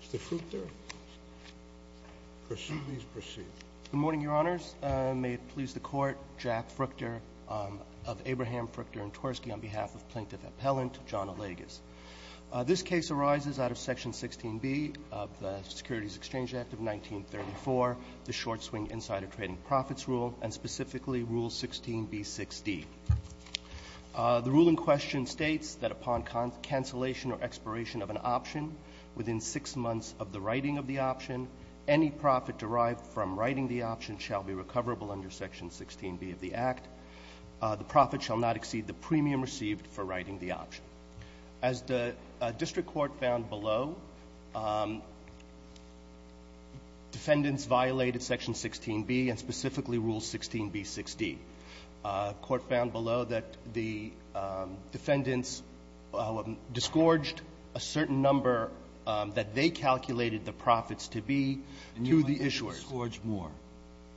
Mr. Fruchter, please proceed. Good morning, Your Honors. May it please the Court, Jack Fruchter of Abraham Fruchter & Tversky on behalf of Plaintiff Appellant John Allegas. This case arises out of Section 16b of the Securities Exchange Act of 1934, the short-swing insider trading profits rule, and specifically Rule 16b6d. The ruling question states that upon cancellation or expiration of an option within six months of the writing of the option, any profit derived from writing the option shall be recoverable under Section 16b of the Act. The profit shall not exceed the premium received for writing the option. As the District Court found below, defendants violated Section 16b and specifically Rule 16b6d. The Court found below that the defendants disgorged a certain number that they calculated the profits to be to the issuers. You mean they disgorged more?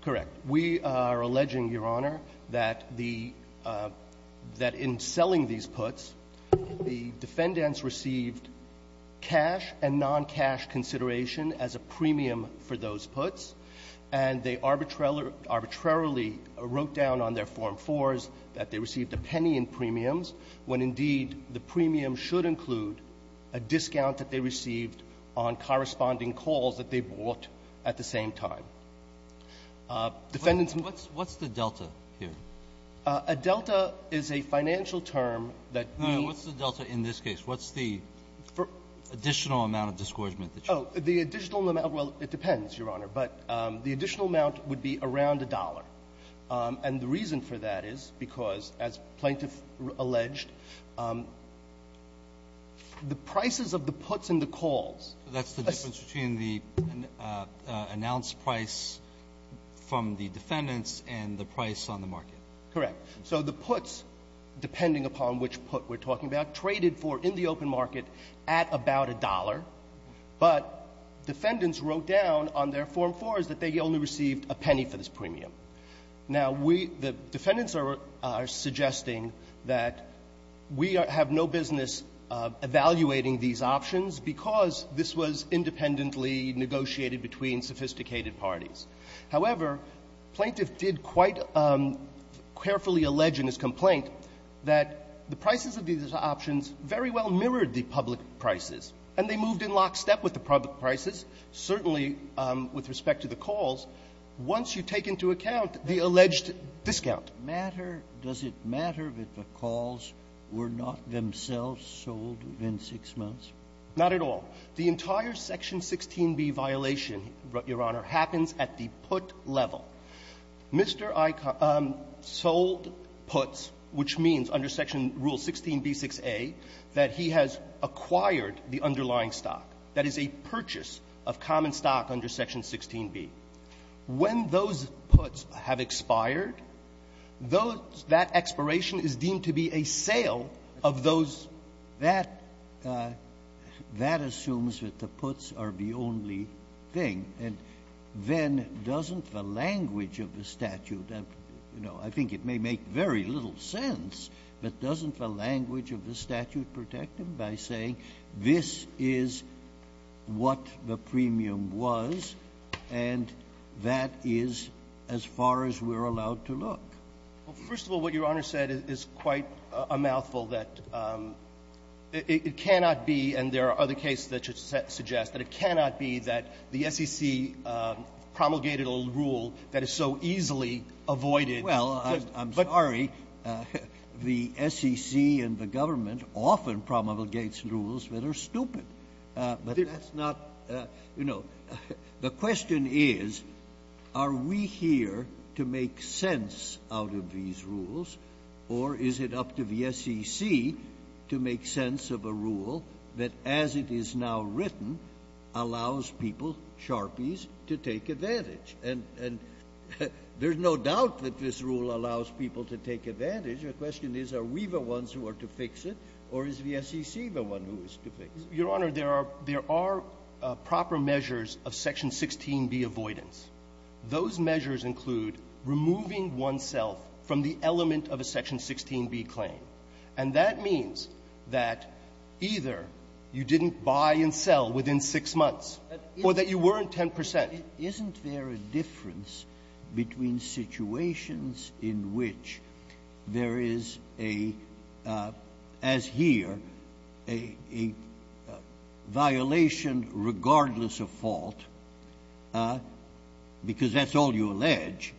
Correct. We are alleging, Your Honor, that in selling these puts, the defendants received cash and non-cash consideration as a premium for those puts, and they arbitrarily wrote down on their Form 4s that they received a penny in premiums, when indeed the premium should include a discount that they received on corresponding calls that they bought at the same time. What's the delta here? A delta is a financial term that we need. What's the delta in this case? What's the additional amount of disgorgement? Oh, the additional amount, well, it depends, Your Honor. But the additional amount would be around a dollar. And the reason for that is because, as Plaintiff alleged, the prices of the puts and the calls. That's the difference between the announced price from the defendants and the price on the market. Correct. So the puts, depending upon which put we're talking about, traded for in the open market at about a dollar, but defendants wrote down on their Form 4s that they only received a penny for this premium. Now, we, the defendants are suggesting that we have no business evaluating these options because this was independently negotiated between sophisticated parties. However, Plaintiff did quite carefully allege in his And they moved in lockstep with the public prices, certainly with respect to the calls. Once you take into account the alleged discount. Does it matter that the calls were not themselves sold within six months? Not at all. The entire Section 16b violation, Your Honor, happens at the put level. Mr. Icahn sold puts, which means under Section Rule 16b6a, that he has acquired the underlying stock. That is a purchase of common stock under Section 16b. When those puts have expired, those — that expiration is deemed to be a sale of those That assumes that the puts are the only thing. And then doesn't the language of the statute — you know, I think it may make very little sense, but doesn't the language of the statute protect him by saying, this is what the premium was, and that is as far as we're allowed to look? Well, first of all, what Your Honor said is quite a mouthful, that it cannot be — And there are other cases that suggest that it cannot be that the SEC promulgated a rule that is so easily avoided. Well, I'm sorry. The SEC and the government often promulgates rules that are stupid. But that's not — you know, the question is, are we here to make sense out of these that, as it is now written, allows people, Sharpies, to take advantage? And there's no doubt that this rule allows people to take advantage. The question is, are we the ones who are to fix it, or is the SEC the one who is to fix it? Your Honor, there are — there are proper measures of Section 16b avoidance. Those measures include removing oneself from the element of a Section 16b claim. And that means that either you didn't buy and sell within six months or that you weren't 10 percent. Isn't there a difference between situations in which there is a — as here, a violation regardless of fault, because that's all you allege,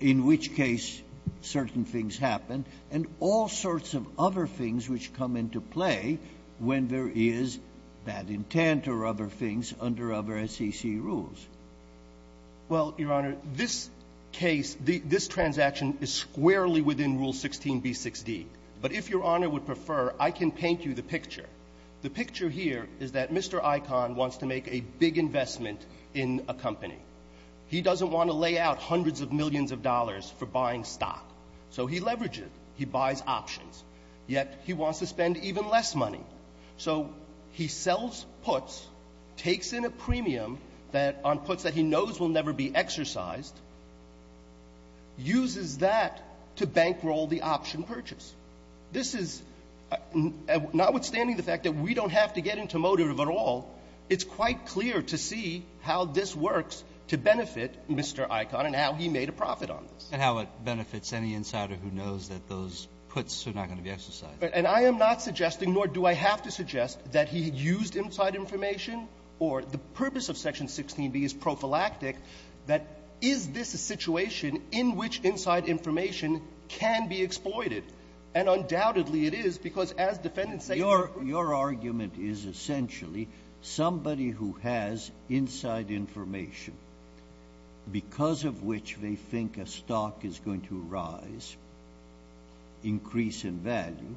in which case certain things happen and all sorts of other things which come into play when there is bad intent or other things under other SEC rules? Well, Your Honor, this case — this transaction is squarely within Rule 16b6d. But if Your Honor would prefer, I can paint you the picture. The picture here is that Mr. Icahn wants to make a big investment in a company. He doesn't want to lay out hundreds of millions of dollars for buying stock. So he leverages. He buys options. Yet he wants to spend even less money. So he sells puts, takes in a premium that — on puts that he knows will never be exercised, uses that to bankroll the option purchase. This is — notwithstanding the fact that we don't have to get into motive at all, it's quite clear to see how this works to benefit Mr. Icahn and how he made a profit on this. And how it benefits any insider who knows that those puts are not going to be exercised. And I am not suggesting, nor do I have to suggest, that he used inside information or the purpose of Section 16b is prophylactic, that is this a situation in which inside information can be exploited? And undoubtedly it is, because as defendants say — Your argument is essentially somebody who has inside information because of which they think a stock is going to rise, increase in value,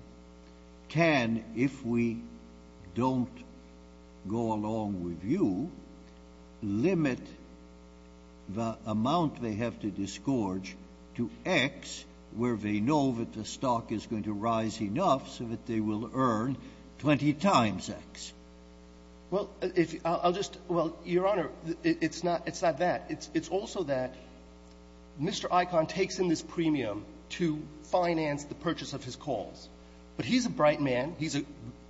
can, if we don't go along with you, limit the amount they have to disgorge to X, where they know that the stock is going to rise enough so that they will earn 20 times X. Well, I'll just — well, Your Honor, it's not that. It's also that Mr. Icahn takes in this premium to finance the purchase of his calls. But he's a bright man. He's an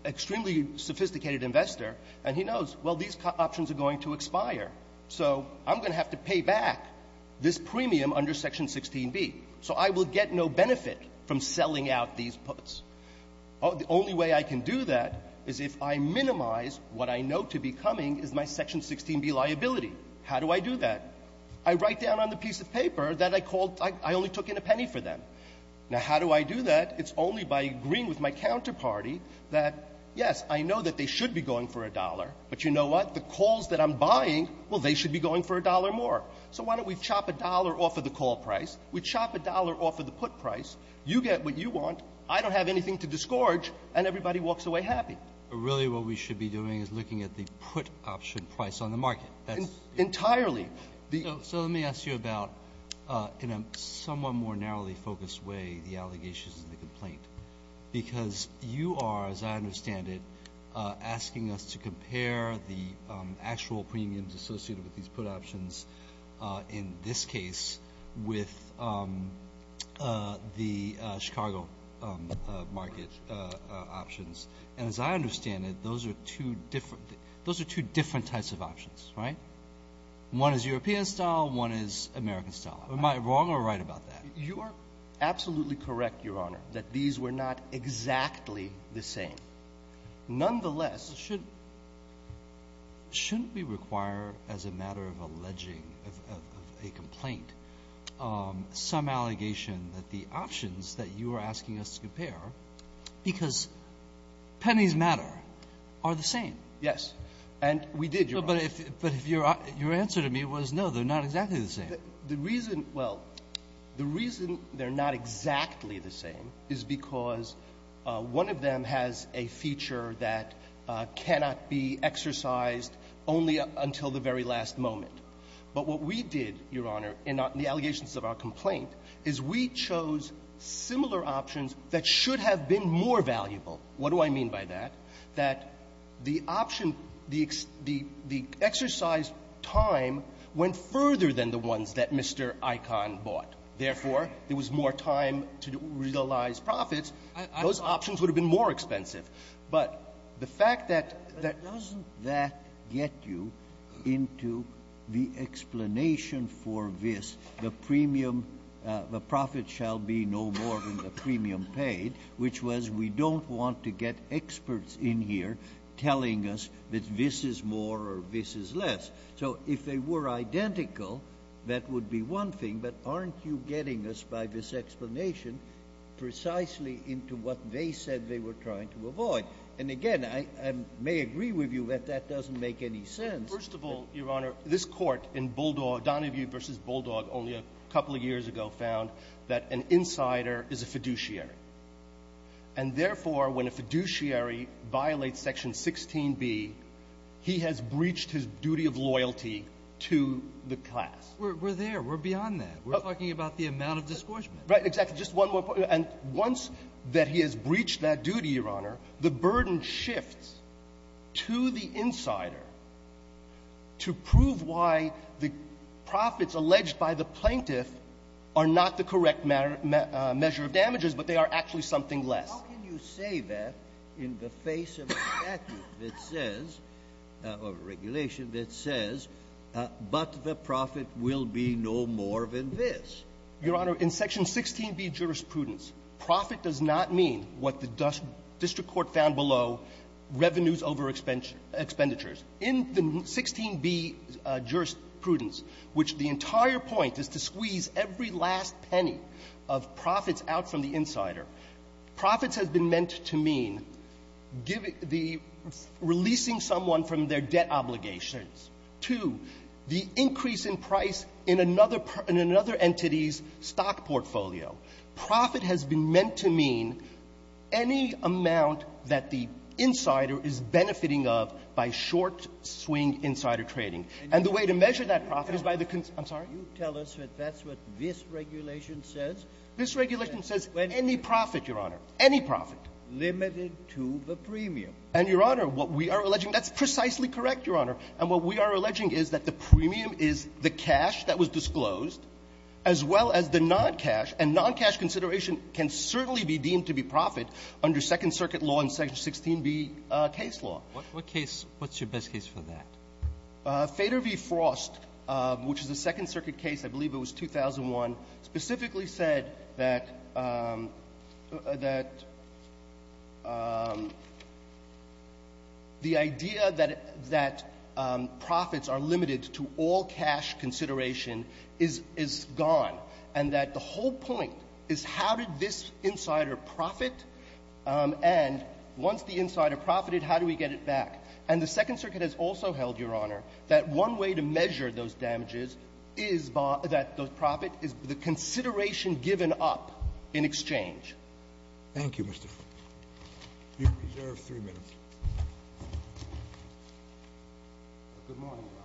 extremely sophisticated investor. And he knows, well, these options are going to expire. So I'm going to have to pay back this premium under Section 16b. So I will get no benefit from selling out these puts. The only way I can do that is if I minimize what I know to be coming as my Section 16b liability. How do I do that? I write down on the piece of paper that I called — I only took in a penny for them. Now, how do I do that? It's only by agreeing with my counterparty that, yes, I know that they should be going for a dollar. But you know what? The calls that I'm buying, well, they should be going for a dollar more. So why don't we chop a dollar off of the call price? We chop a dollar off of the put price. You get what you want. I don't have anything to disgorge. And everybody walks away happy. But really what we should be doing is looking at the put option price on the market. Entirely. So let me ask you about, in a somewhat more narrowly focused way, the allegations of the complaint. Because you are, as I understand it, asking us to compare the actual premiums associated with these put options in this case with the Chicago market options. And as I understand it, those are two different — those are two different types of options, right? One is European style. One is American style. Am I wrong or right about that? You are absolutely correct, Your Honor, that these were not exactly the same. Nonetheless, shouldn't — shouldn't we require, as a matter of alleging a complaint, some allegation that the options that you are asking us to compare — because pennies matter — are the same? Yes. And we did, Your Honor. But if — but if your answer to me was, no, they're not exactly the same. The reason — well, the reason they're not exactly the same is because one of them has a feature that cannot be exercised only until the very last moment. But what we did, Your Honor, in the allegations of our complaint, is we chose similar options that should have been more valuable. What do I mean by that? That the option — the exercise time went further than the ones that Mr. Icahn bought. Therefore, there was more time to realize profits. Those options would have been more expensive. But the fact that — But doesn't that get you into the explanation for this, the premium — the profit shall be no more than the premium paid, which was, we don't want to get experts in here telling us that this is more or this is less. So if they were identical, that would be one thing. But aren't you getting us, by this explanation, precisely into what they said they were trying to avoid? And again, I may agree with you that that doesn't make any sense. First of all, Your Honor, this court in Bulldog — Donahue v. Bulldog, only a couple of years ago, found that an insider is a fiduciary. And therefore, when a fiduciary violates Section 16b, he has breached his duty of loyalty to the class. We're there. We're beyond that. We're talking about the amount of discouragement. Right. Exactly. Just one more point. Your Honor, in Section 16b jurisprudence, profit does not mean what the district court found below revenues over expenditures. revenues over expenditures. In the 16b jurisprudence, which the entire point is to squeeze every last penny of profits out from the insider, profits has been meant to mean giving the — releasing someone from their debt obligations to the increase in price in another — in another entity's stock portfolio. Profit has been meant to mean any amount that the insider is benefiting of by short swing insider trading. And the way to measure that profit is by the — I'm sorry? You tell us that that's what this regulation says? This regulation says any profit, Your Honor, any profit. Limited to the premium. And, Your Honor, what we are alleging — that's precisely correct, Your Honor. And what we are alleging is that the premium is the cash that was disclosed, as well as the non-cash. And non-cash consideration can certainly be deemed to be profit under Second Circuit law and Section 16b case law. What case — what's your best case for that? Feder v. Frost, which is a Second Circuit case, I believe it was 2001, specifically said that — that the idea that — that profits are limited to all cash consideration is — is gone. And that the whole point is how did this insider profit? And once the insider profited, how do we get it back? And the Second Circuit has also held, Your Honor, that one way to measure those damages is by — that the profit is the consideration given up in exchange. Thank you, Mr. — you're reserved three minutes. Good morning, Your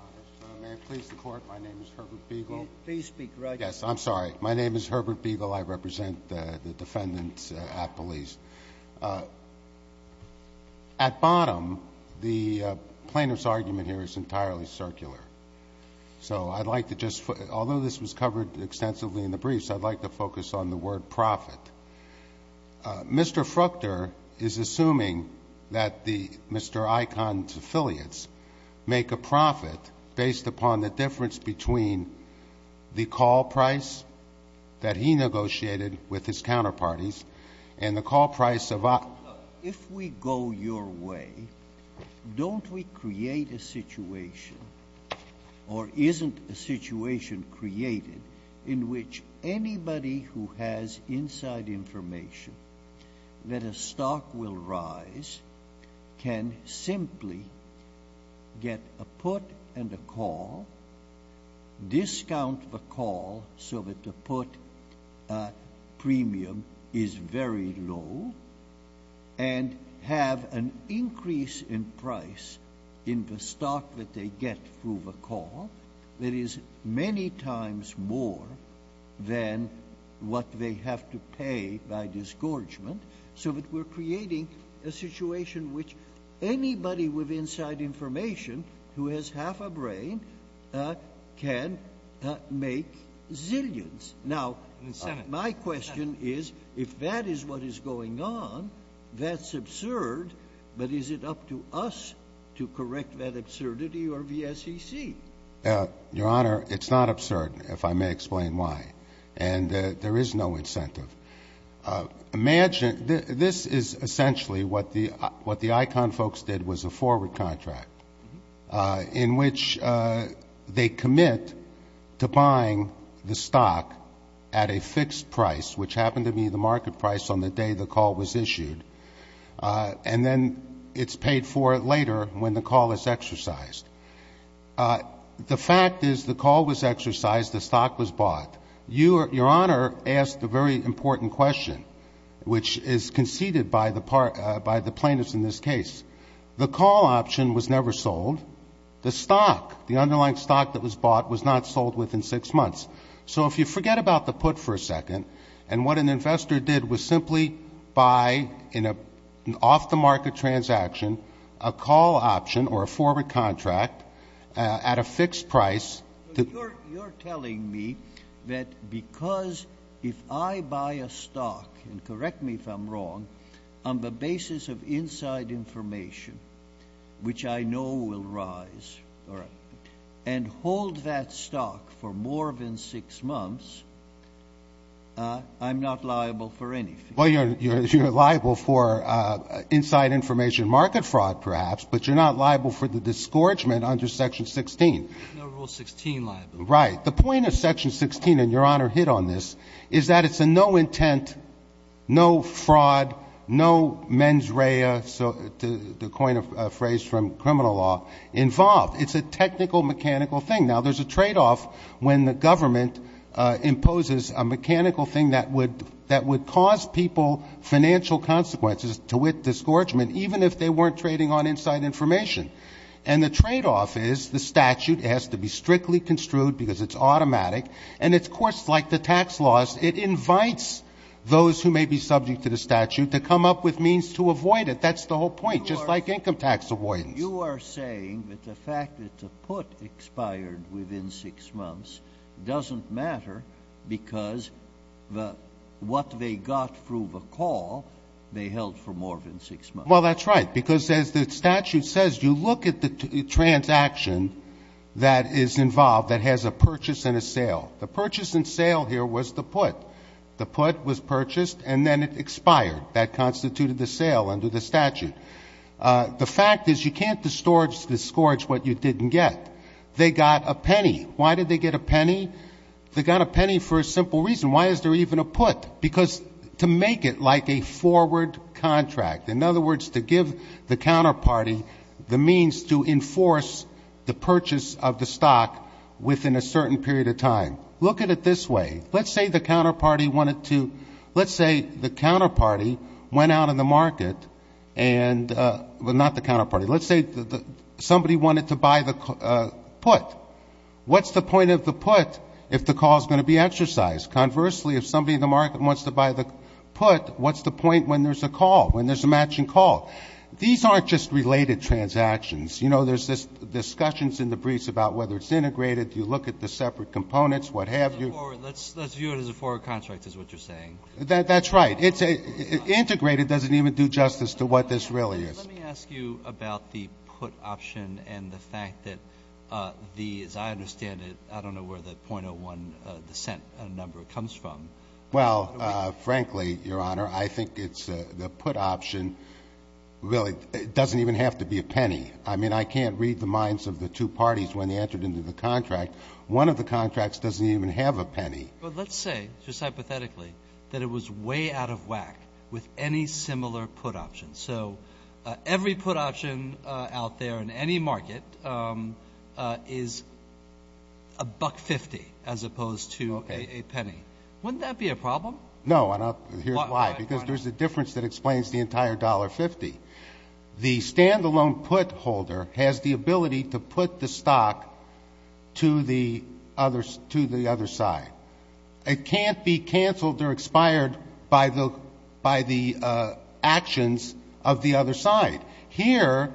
Honor. May it please the Court, my name is Herbert Beagle. Please speak right to the mic. Yes, I'm sorry. My name is Herbert Beagle. I represent the defendant at police. At bottom, the plaintiff's argument here is entirely circular. So I'd like to just — although this was covered extensively in the briefs, I'd like to focus on the word profit. Mr. Fruchter is assuming that the — Mr. Icahn's affiliates make a profit based upon the difference between the call price that he negotiated with his counterparties and the call price of — If we go your way, don't we create a situation — or isn't a situation created in which anybody who has inside information that a stock will rise can simply get a put and a call, discount the call so that the put premium is very low, and have an increase in price in the stock that they get through the call that is many times more than what they have to pay by disgorgement, so that we're creating a situation which anybody with inside information who has half a brain can make zillions? Now, my question is, if that is what is going on, that's absurd, but is it up to us to correct that absurdity or the SEC? Your Honor, it's not absurd, if I may explain why. And there is no incentive. Imagine — this is essentially what the — what the Icahn folks did was a forward contract, in which they commit to buying the stock at a fixed price, which happened to be the market price on the day the call was issued, and then it's paid for later when the call is exercised. The fact is the call was exercised, the stock was bought. Your Honor asked a very important question, which is conceded by the plaintiffs in this case. The call option was never sold. The stock, the underlying stock that was bought, was not sold within six months. So if you forget about the put for a second, and what an investor did was simply buy, in an off-the-market transaction, a call option or a forward contract at a fixed price — You're telling me that because if I buy a stock, and correct me if I'm wrong, on the basis of inside information, which I know will rise, and hold that stock for more than six months, I'm not liable for anything? Well, you're liable for inside information market fraud, perhaps, but you're not liable for the disgorgement under Section 16. No Rule 16 liability. Right. The point of Section 16, and Your Honor hit on this, is that it's a no-intent, no fraud, no mens rea, to coin a phrase from criminal law, involved. It's a technical, mechanical thing. Now, there's a tradeoff when the government imposes a mechanical thing that would cause people financial consequences to with disgorgement, even if they weren't trading on inside information. And the tradeoff is the statute has to be strictly construed because it's automatic. And it's, of course, like the tax laws, it invites those who may be subject to the statute to come up with means to avoid it. That's the whole point, just like income tax avoidance. You are saying that the fact that the put expired within six months doesn't matter because what they got through the call, they held for more than six months. Well, that's right. Because as the statute says, you look at the transaction that is involved that has a purchase and a sale. The purchase and sale here was the put. The put was purchased, and then it expired. That constituted the sale under the statute. The fact is you can't disgorge what you didn't get. They got a penny. Why did they get a penny? They got a penny for a simple reason. Why is there even a put? Because to make it like a forward contract, in other words, to give the counterparty the means to enforce the purchase of the stock within a certain period of time. Look at it this way. Let's say the counterparty wanted to, let's say the counterparty went out on the market and, well, not the counterparty. Let's say somebody wanted to buy the put. What's the point of the put if the call is going to be exercised? Conversely, if somebody in the market wants to buy the put, what's the point when there's a call, when there's a matching call? These aren't just related transactions. You know, there's discussions in the briefs about whether it's integrated. You look at the separate components, what have you. Let's view it as a forward contract is what you're saying. That's right. Integrated doesn't even do justice to what this really is. Let me ask you about the put option and the fact that the, as I understand it, I don't know where the .01 descent number comes from. Well, frankly, Your Honor, I think it's the put option really doesn't even have to be a penny. I mean, I can't read the minds of the two parties when they entered into the contract. One of the contracts doesn't even have a penny. But let's say, just hypothetically, that it was way out of whack with any similar put option. So every put option out there in any market is $1.50 as opposed to a penny. Wouldn't that be a problem? No, and here's why. Because there's a difference that explains the entire $1.50. The standalone put holder has the ability to put the stock to the other side. It can't be canceled or expired by the actions of the other side. Here,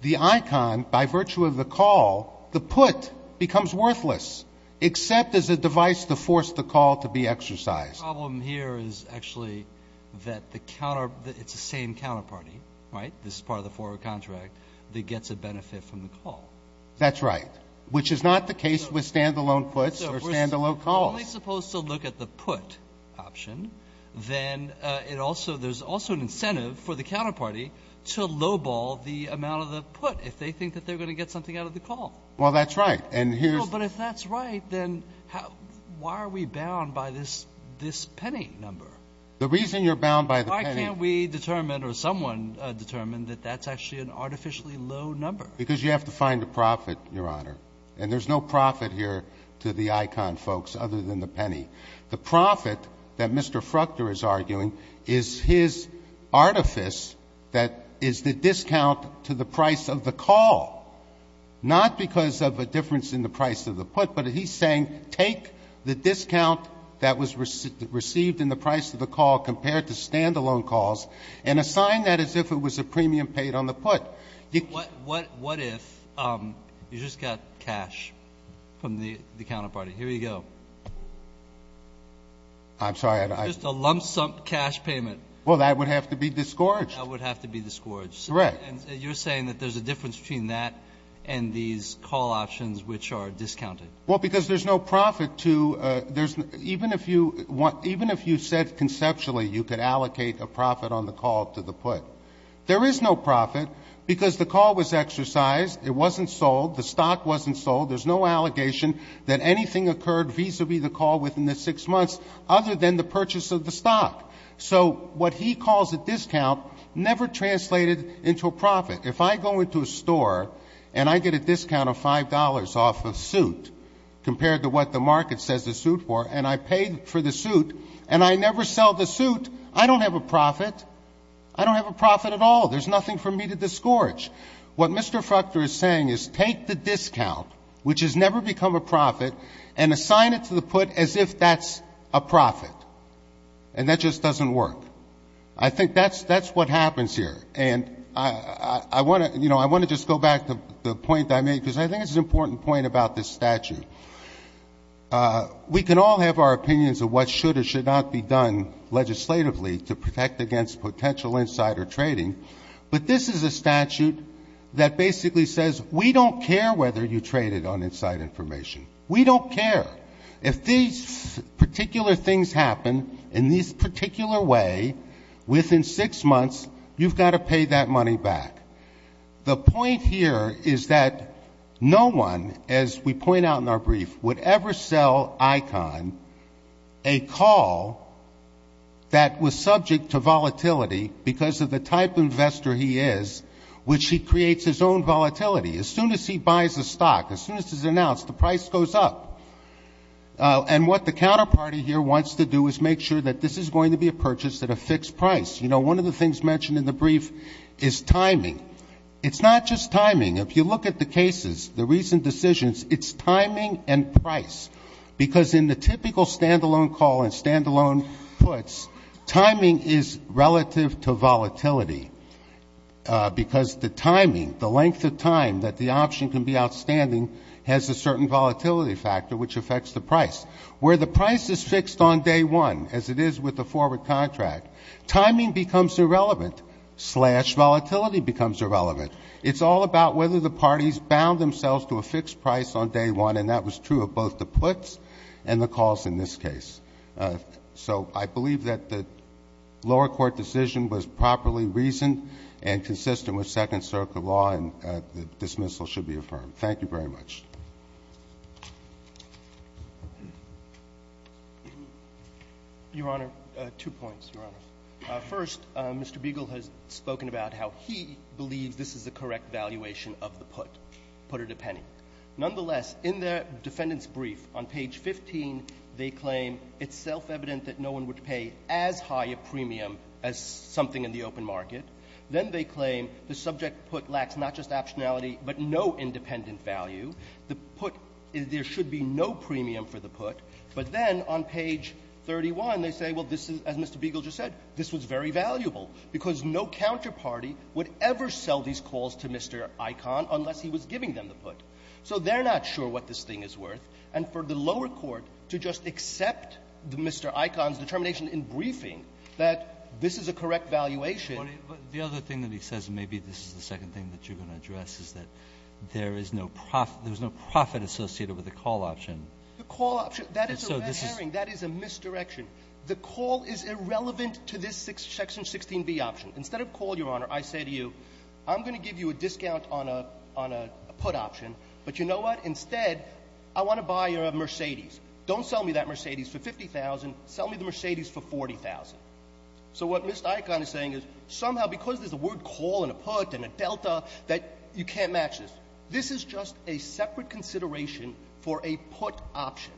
the icon, by virtue of the call, the put becomes worthless, except as a device to force the call to be exercised. The problem here is actually that it's the same counterparty, right? This is part of the forward contract that gets a benefit from the call. That's right, which is not the case with standalone puts or standalone calls. If we're only supposed to look at the put option, then there's also an incentive for the counterparty to lowball the amount of the put if they think that they're going to get something out of the call. Well, that's right. Well, but if that's right, then why are we bound by this penny number? The reason you're bound by the penny. Why can't we determine or someone determine that that's actually an artificially low number? Because you have to find a profit, Your Honor. And there's no profit here to the icon folks other than the penny. The profit that Mr. Fruchter is arguing is his artifice that is the discount to the price of the call, not because of a difference in the price of the put, but he's saying take the discount that was received in the price of the call compared to standalone calls and assign that as if it was a premium paid on the put. What if you just got cash from the counterparty? Here you go. I'm sorry. Just a lump sum cash payment. Well, that would have to be disgorged. That would have to be disgorged. Correct. And you're saying that there's a difference between that and these call options which are discounted. Well, because there's no profit to — even if you said conceptually you could allocate a profit on the call to the put, there is no profit because the call was exercised, it wasn't sold, the stock wasn't sold, there's no allegation that anything occurred vis-a-vis the call within the six months other than the purchase of the stock. So what he calls a discount never translated into a profit. If I go into a store and I get a discount of $5 off a suit compared to what the market says the suit for, and I pay for the suit and I never sell the suit, I don't have a profit. I don't have a profit at all. There's nothing for me to disgorge. What Mr. Fruchter is saying is take the discount, which has never become a profit, and assign it to the put as if that's a profit. And that just doesn't work. I think that's what happens here. And I want to just go back to the point I made because I think it's an important point about this statute. We can all have our opinions of what should or should not be done legislatively to protect against potential insider trading, but this is a statute that basically says we don't care whether you trade it on inside information. We don't care. If these particular things happen in this particular way within six months, you've got to pay that money back. The point here is that no one, as we point out in our brief, would ever sell ICON, a call that was subject to volatility because of the type of investor he is, which he creates his own volatility. As soon as he buys a stock, as soon as it's announced, the price goes up. And what the counterparty here wants to do is make sure that this is going to be a purchase at a fixed price. You know, one of the things mentioned in the brief is timing. It's not just timing. If you look at the cases, the recent decisions, it's timing and price. Because in the typical stand-alone call and stand-alone puts, timing is relative to volatility because the timing, the length of time that the option can be outstanding has a certain volatility factor which affects the price. Where the price is fixed on day one, as it is with the forward contract, timing becomes irrelevant, slash volatility becomes irrelevant. It's all about whether the parties bound themselves to a fixed price on day one, and that was true of both the puts and the calls in this case. So I believe that the lower court decision was properly reasoned and consistent with Second Circuit law, and the dismissal should be affirmed. Thank you very much. Your Honor, two points, Your Honor. First, Mr. Beagle has spoken about how he believes this is the correct valuation of the put, put at a penny. Nonetheless, in the defendant's brief on page 15, they claim it's self-evident that no one would pay as high a premium as something in the open market. Then they claim the subject put lacks not just optionality but no independent value. The put, there should be no premium for the put. But then on page 31, they say, well, this is, as Mr. Beagle just said, this was very valuable, because no counterparty would ever sell these calls to Mr. Icahn unless he was giving them the put. So they're not sure what this thing is worth. And for the lower court to just accept Mr. Icahn's determination in briefing that this is a correct valuation. But the other thing that he says, and maybe this is the second thing that you're going to address, is that there is no profit associated with the call option. The call option, that is a mishearing. That is a misdirection. The call is irrelevant to this section 16b option. Instead of call, Your Honor, I say to you, I'm going to give you a discount on a put option, but you know what? Instead, I want to buy you a Mercedes. Don't sell me that Mercedes for $50,000. Sell me the Mercedes for $40,000. So what Mr. Icahn is saying is, somehow, because there's a word call and a put and a delta, that you can't match this. This is just a separate consideration for a put option.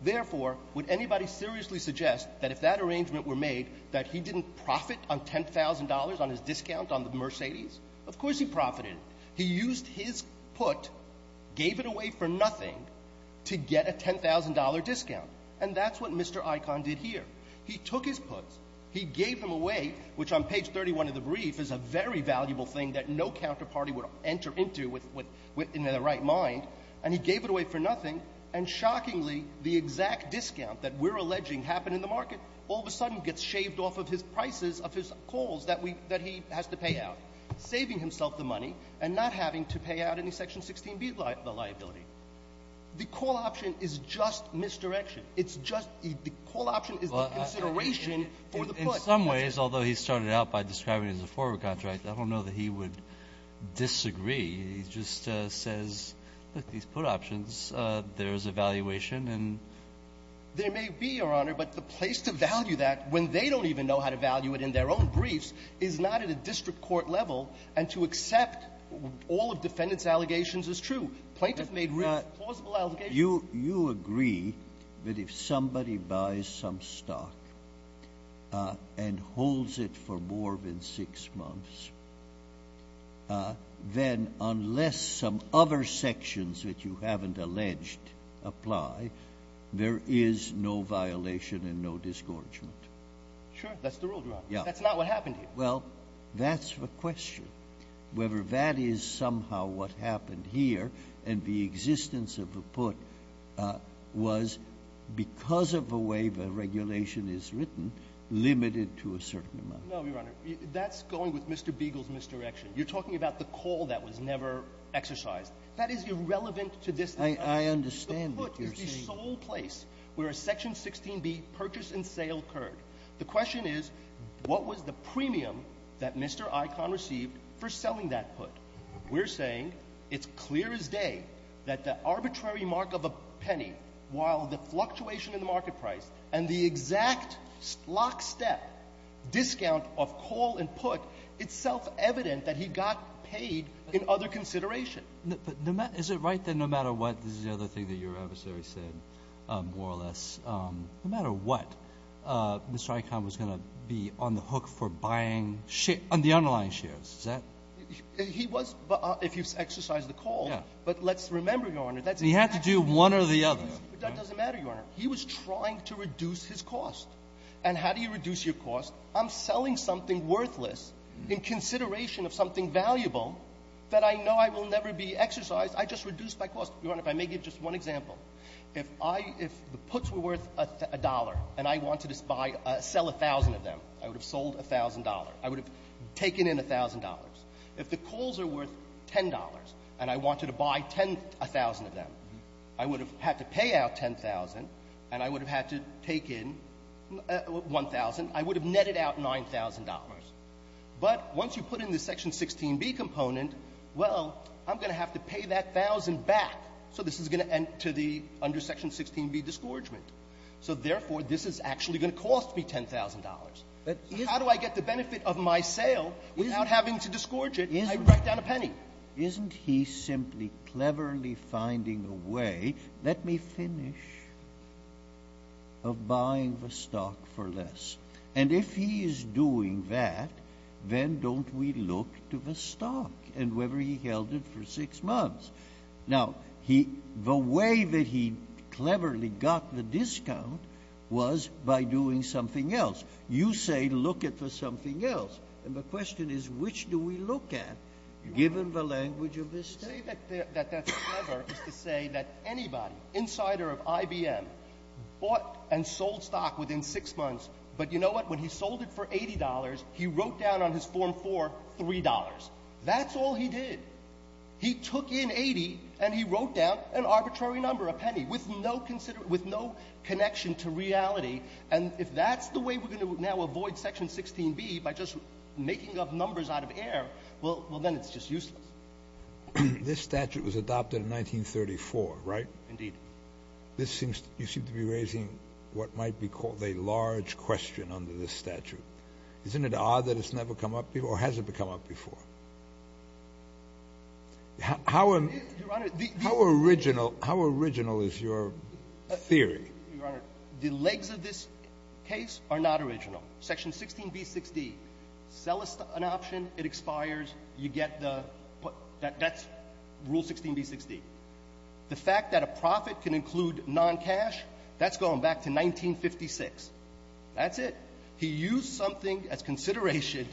Therefore, would anybody seriously suggest that if that arrangement were made, that he didn't profit on $10,000 on his discount on the Mercedes? Of course he profited. He used his put, gave it away for nothing to get a $10,000 discount. And that's what Mr. Icahn did here. He took his puts. He gave them away, which on page 31 of the brief is a very valuable thing that no counterparty would enter into in their right mind, and he gave it away for nothing. And shockingly, the exact discount that we're alleging happened in the market all of a sudden gets shaved off of his prices of his calls that he has to pay out, saving himself the money and not having to pay out any section 16b liability. The call option is just misdirection. It's just the call option is the consideration for the put. In some ways, although he started out by describing it as a forward contract, I don't know that he would disagree. He just says, look, these put options, there is a valuation and ---- There may be, Your Honor, but the place to value that when they don't even know how to value it in their own briefs is not at a district court level, and to accept all of defendants' allegations is true. Plaintiffs made real plausible allegations. You agree that if somebody buys some stock and holds it for more than six months, then unless some other sections that you haven't alleged apply, there is no violation and no disgorgement. Sure. That's the rule, Your Honor. Yeah. That's not what happened here. Well, that's the question, whether that is somehow what happened here and the existence of a put was, because of the way the regulation is written, limited to a certain amount. No, Your Honor. That's going with Mr. Beagle's misdirection. You're talking about the call that was never exercised. That is irrelevant to this. I understand what you're saying. The put is the sole place where a Section 16b purchase and sale occurred. The question is, what was the premium that Mr. Icahn received for selling that put? We're saying it's clear as day that the arbitrary mark of a penny, while the fluctuation in the market price and the exact lockstep discount of call and put, it's self-evident that he got paid in other consideration. But is it right that no matter what, this is the other thing that your adversary said, more or less, no matter what, Mr. Icahn was going to be on the hook for buying the underlying shares? He was, if you exercise the call. Yeah. But let's remember, Your Honor. He had to do one or the other. That doesn't matter, Your Honor. He was trying to reduce his cost. And how do you reduce your cost? I'm selling something worthless in consideration of something valuable that I know I will never be exercised. I just reduced my cost. Your Honor, if I may give just one example. If the puts were worth $1 and I wanted to sell 1,000 of them, I would have sold $1,000. I would have taken in $1,000. If the calls are worth $10 and I wanted to buy 10,000 of them, I would have had to pay out 10,000 and I would have had to take in 1,000. I would have netted out $9,000. But once you put in the Section 16b component, well, I'm going to have to pay that 1,000 back. So this is going to enter the under Section 16b discouragement. So therefore, this is actually going to cost me $10,000. How do I get the benefit of my sale without having to disgorge it? I write down a penny. Isn't he simply cleverly finding a way, let me finish, of buying the stock for less. And if he is doing that, then don't we look to the stock and whether he held it for six months. Now, the way that he cleverly got the discount was by doing something else. You say look at the something else. And the question is, which do we look at, given the language of this statement? That that's clever is to say that anybody, insider of IBM, bought and sold stock within six months. But you know what? When he sold it for $80, he wrote down on his Form 4 $3. That's all he did. He took in 80 and he wrote down an arbitrary number, a penny, with no connection to reality. And if that's the way we're going to now avoid Section 16B, by just making up numbers out of air, well, then it's just useless. This statute was adopted in 1934, right? Indeed. You seem to be raising what might be called a large question under this statute. Isn't it odd that it's never come up before, or has it come up before? Your Honor. How original is your theory? Your Honor, the legs of this case are not original. Section 16B.6d, sell an option, it expires, you get the — that's Rule 16B.6d. The fact that a profit can include non-cash, that's going back to 1956. That's it. He used something as consideration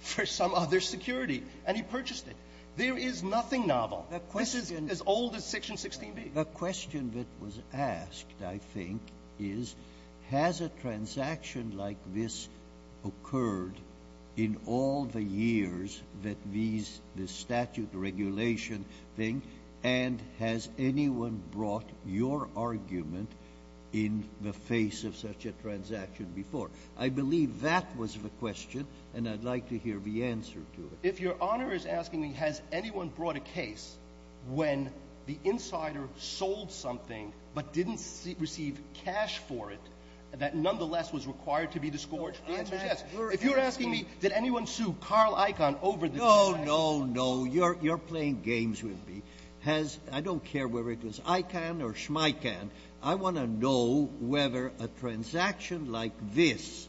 for some other security, and he purchased it. There is nothing novel. This is as old as Section 16B. A question that was asked, I think, is has a transaction like this occurred in all the years that these — this statute regulation thing, and has anyone brought your argument in the face of such a transaction before? I believe that was the question, and I'd like to hear the answer to it. If your Honor is asking me has anyone brought a case when the insider sold something but didn't receive cash for it that nonetheless was required to be disgorged, the answer is yes. If you're asking me did anyone sue Carl Icahn over this transaction — No, no, no. You're playing games with me. Has — I don't care whether it was Icahn or Schmeichan. I want to know whether a transaction like this,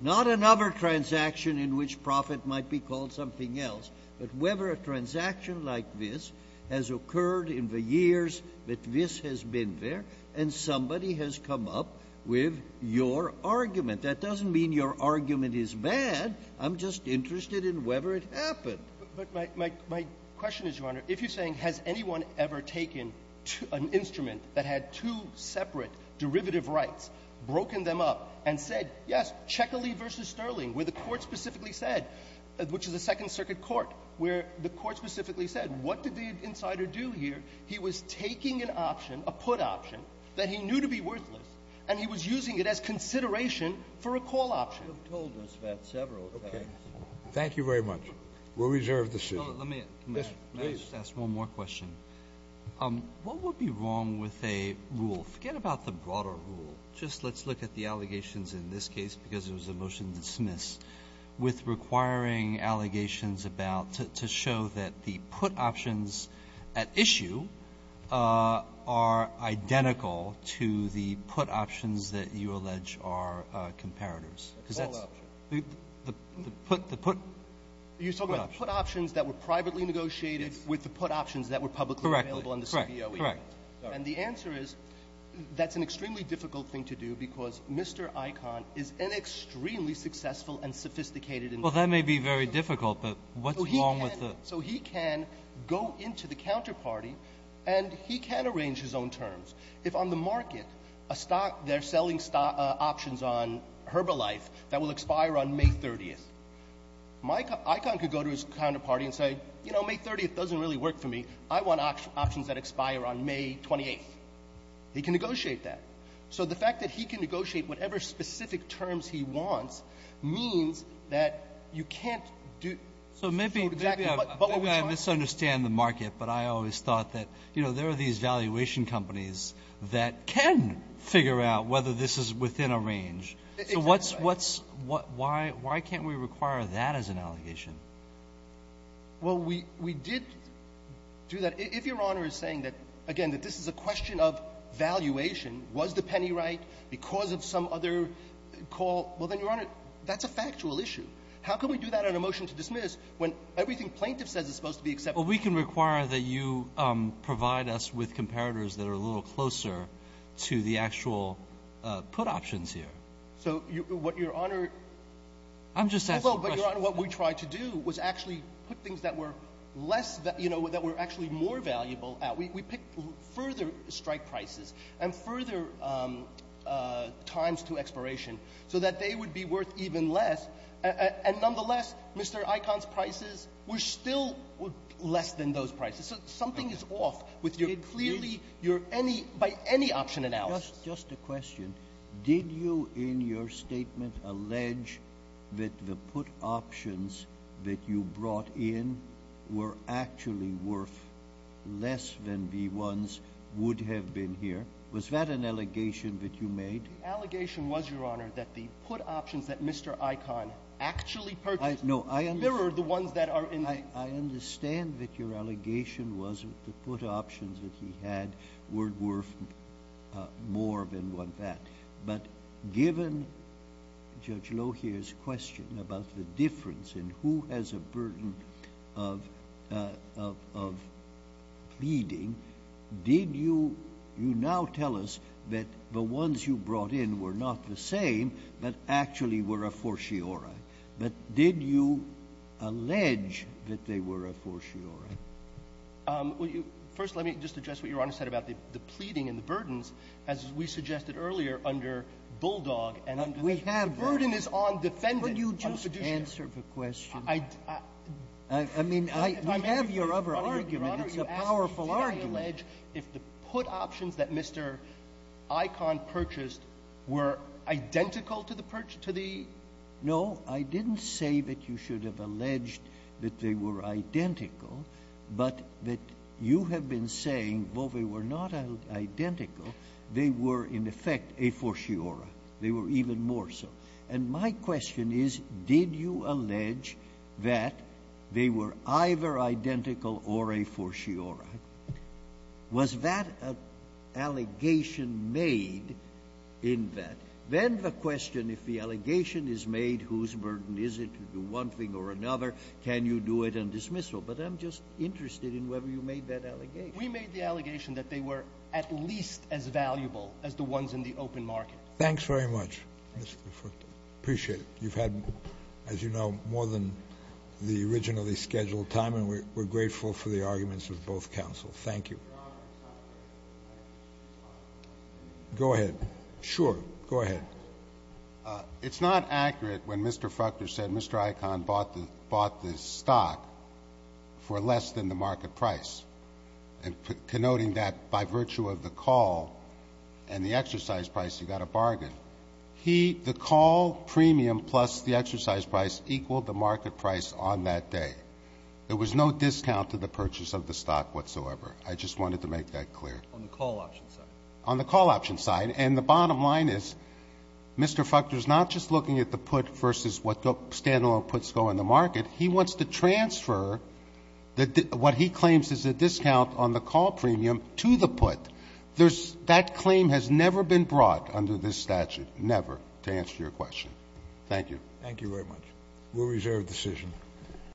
not another transaction in which profit might be called something else, but whether a transaction like this has occurred in the years that this has been there, and somebody has come up with your argument. That doesn't mean your argument is bad. I'm just interested in whether it happened. But my question is, Your Honor, if you're saying has anyone ever taken an instrument that had two separate derivative rights, broken them up, and said yes, Checkerley v. Sterling, where the Court specifically said, which is a Second Circuit court, where the Court specifically said, what did the insider do here? He was taking an option, a put option, that he knew to be worthless, and he was using it as consideration for a call option. You have told us that several times. Okay. Thank you very much. We'll reserve the seat. Let me — Yes, please. May I just ask one more question? What would be wrong with a rule? Forget about the broader rule. Just let's look at the allegations in this case, because it was a motion to dismiss, with requiring allegations about — to show that the put options at issue are identical to the put options that you allege are comparators, because that's — A call option. The put — You're talking about the put options that were privately negotiated with the put options that were publicly available in the CBOE. Correct. And the answer is, that's an extremely difficult thing to do, because Mr. Icahn is an extremely successful and sophisticated investor. Well, that may be very difficult, but what's wrong with the — So he can go into the counterparty, and he can arrange his own terms. If on the market, a stock — they're selling options on Herbalife that will expire on May 30th, Icahn could go to his counterparty and say, you know, May 30th doesn't really work for me. I want options that expire on May 28th. He can negotiate that. So the fact that he can negotiate whatever specific terms he wants means that you can't do — So maybe I misunderstand the market, but I always thought that, you know, there are these valuation companies that can figure out whether this is within a range. So what's — why can't we require that as an allegation? Well, we did do that. If Your Honor is saying that, again, that this is a question of valuation, was the penny right because of some other call, well, then, Your Honor, that's a factual issue. How can we do that on a motion to dismiss when everything plaintiff says is supposed to be acceptable? Well, we can require that you provide us with comparators that are a little closer to the actual put options here. So what Your Honor — I'm just asking a question. Your Honor, what we tried to do was actually put things that were less — you know, that were actually more valuable out. We picked further strike prices and further times to expiration so that they would be worth even less. And nonetheless, Mr. Icahn's prices were still less than those prices. So something is off with your — clearly, your any — by any option announced. Just a question. Did you, in your statement, allege that the put options that you brought in were actually worth less than the ones would have been here? Was that an allegation that you made? The allegation was, Your Honor, that the put options that Mr. Icahn actually purchased — No, I —— mirrored the ones that are in the — I understand that your allegation was that the put options that he had were worth more than that. But given Judge Lohier's question about the difference in who has a burden of pleading, did you — you now tell us that the ones you brought in were not the same but actually were a fortiori. But did you allege that they were a fortiori? First, let me just address what Your Honor said about the pleading and the burdens. As we suggested earlier, under Bulldog and — We have — The burden is on defendants. Could you just answer the question? I mean, I — we have your other argument. It's a powerful argument. Did I allege if the put options that Mr. Icahn purchased were identical to the — No, I didn't say that you should have alleged that they were identical, but that you have been saying, well, they were not identical. They were, in effect, a fortiori. They were even more so. And my question is, did you allege that they were either identical or a fortiori? Was that an allegation made in that? Then the question, if the allegation is made, whose burden is it to do one thing or another? Can you do it on dismissal? But I'm just interested in whether you made that allegation. We made the allegation that they were at least as valuable as the ones in the open market. Thanks very much, Mr. Lefort. Appreciate it. You've had, as you know, more than the originally scheduled time, and we're grateful for the arguments of both counsels. Thank you. Your Honor, if I may — Go ahead. Sure. Go ahead. It's not accurate when Mr. Fuchter said Mr. Icahn bought the stock for less than the market price, and connoting that by virtue of the call and the exercise price, he got a bargain. He — the call premium plus the exercise price equaled the market price on that day. There was no discount to the purchase of the stock whatsoever. I just wanted to make that clear. On the call option side. On the call option side. And the bottom line is Mr. Fuchter is not just looking at the put versus what stand-alone puts go in the market. He wants to transfer what he claims is a discount on the call premium to the put. There's — that claim has never been brought under this statute. Never, to answer your question. Thank you. Thank you very much. We'll reserve the decision.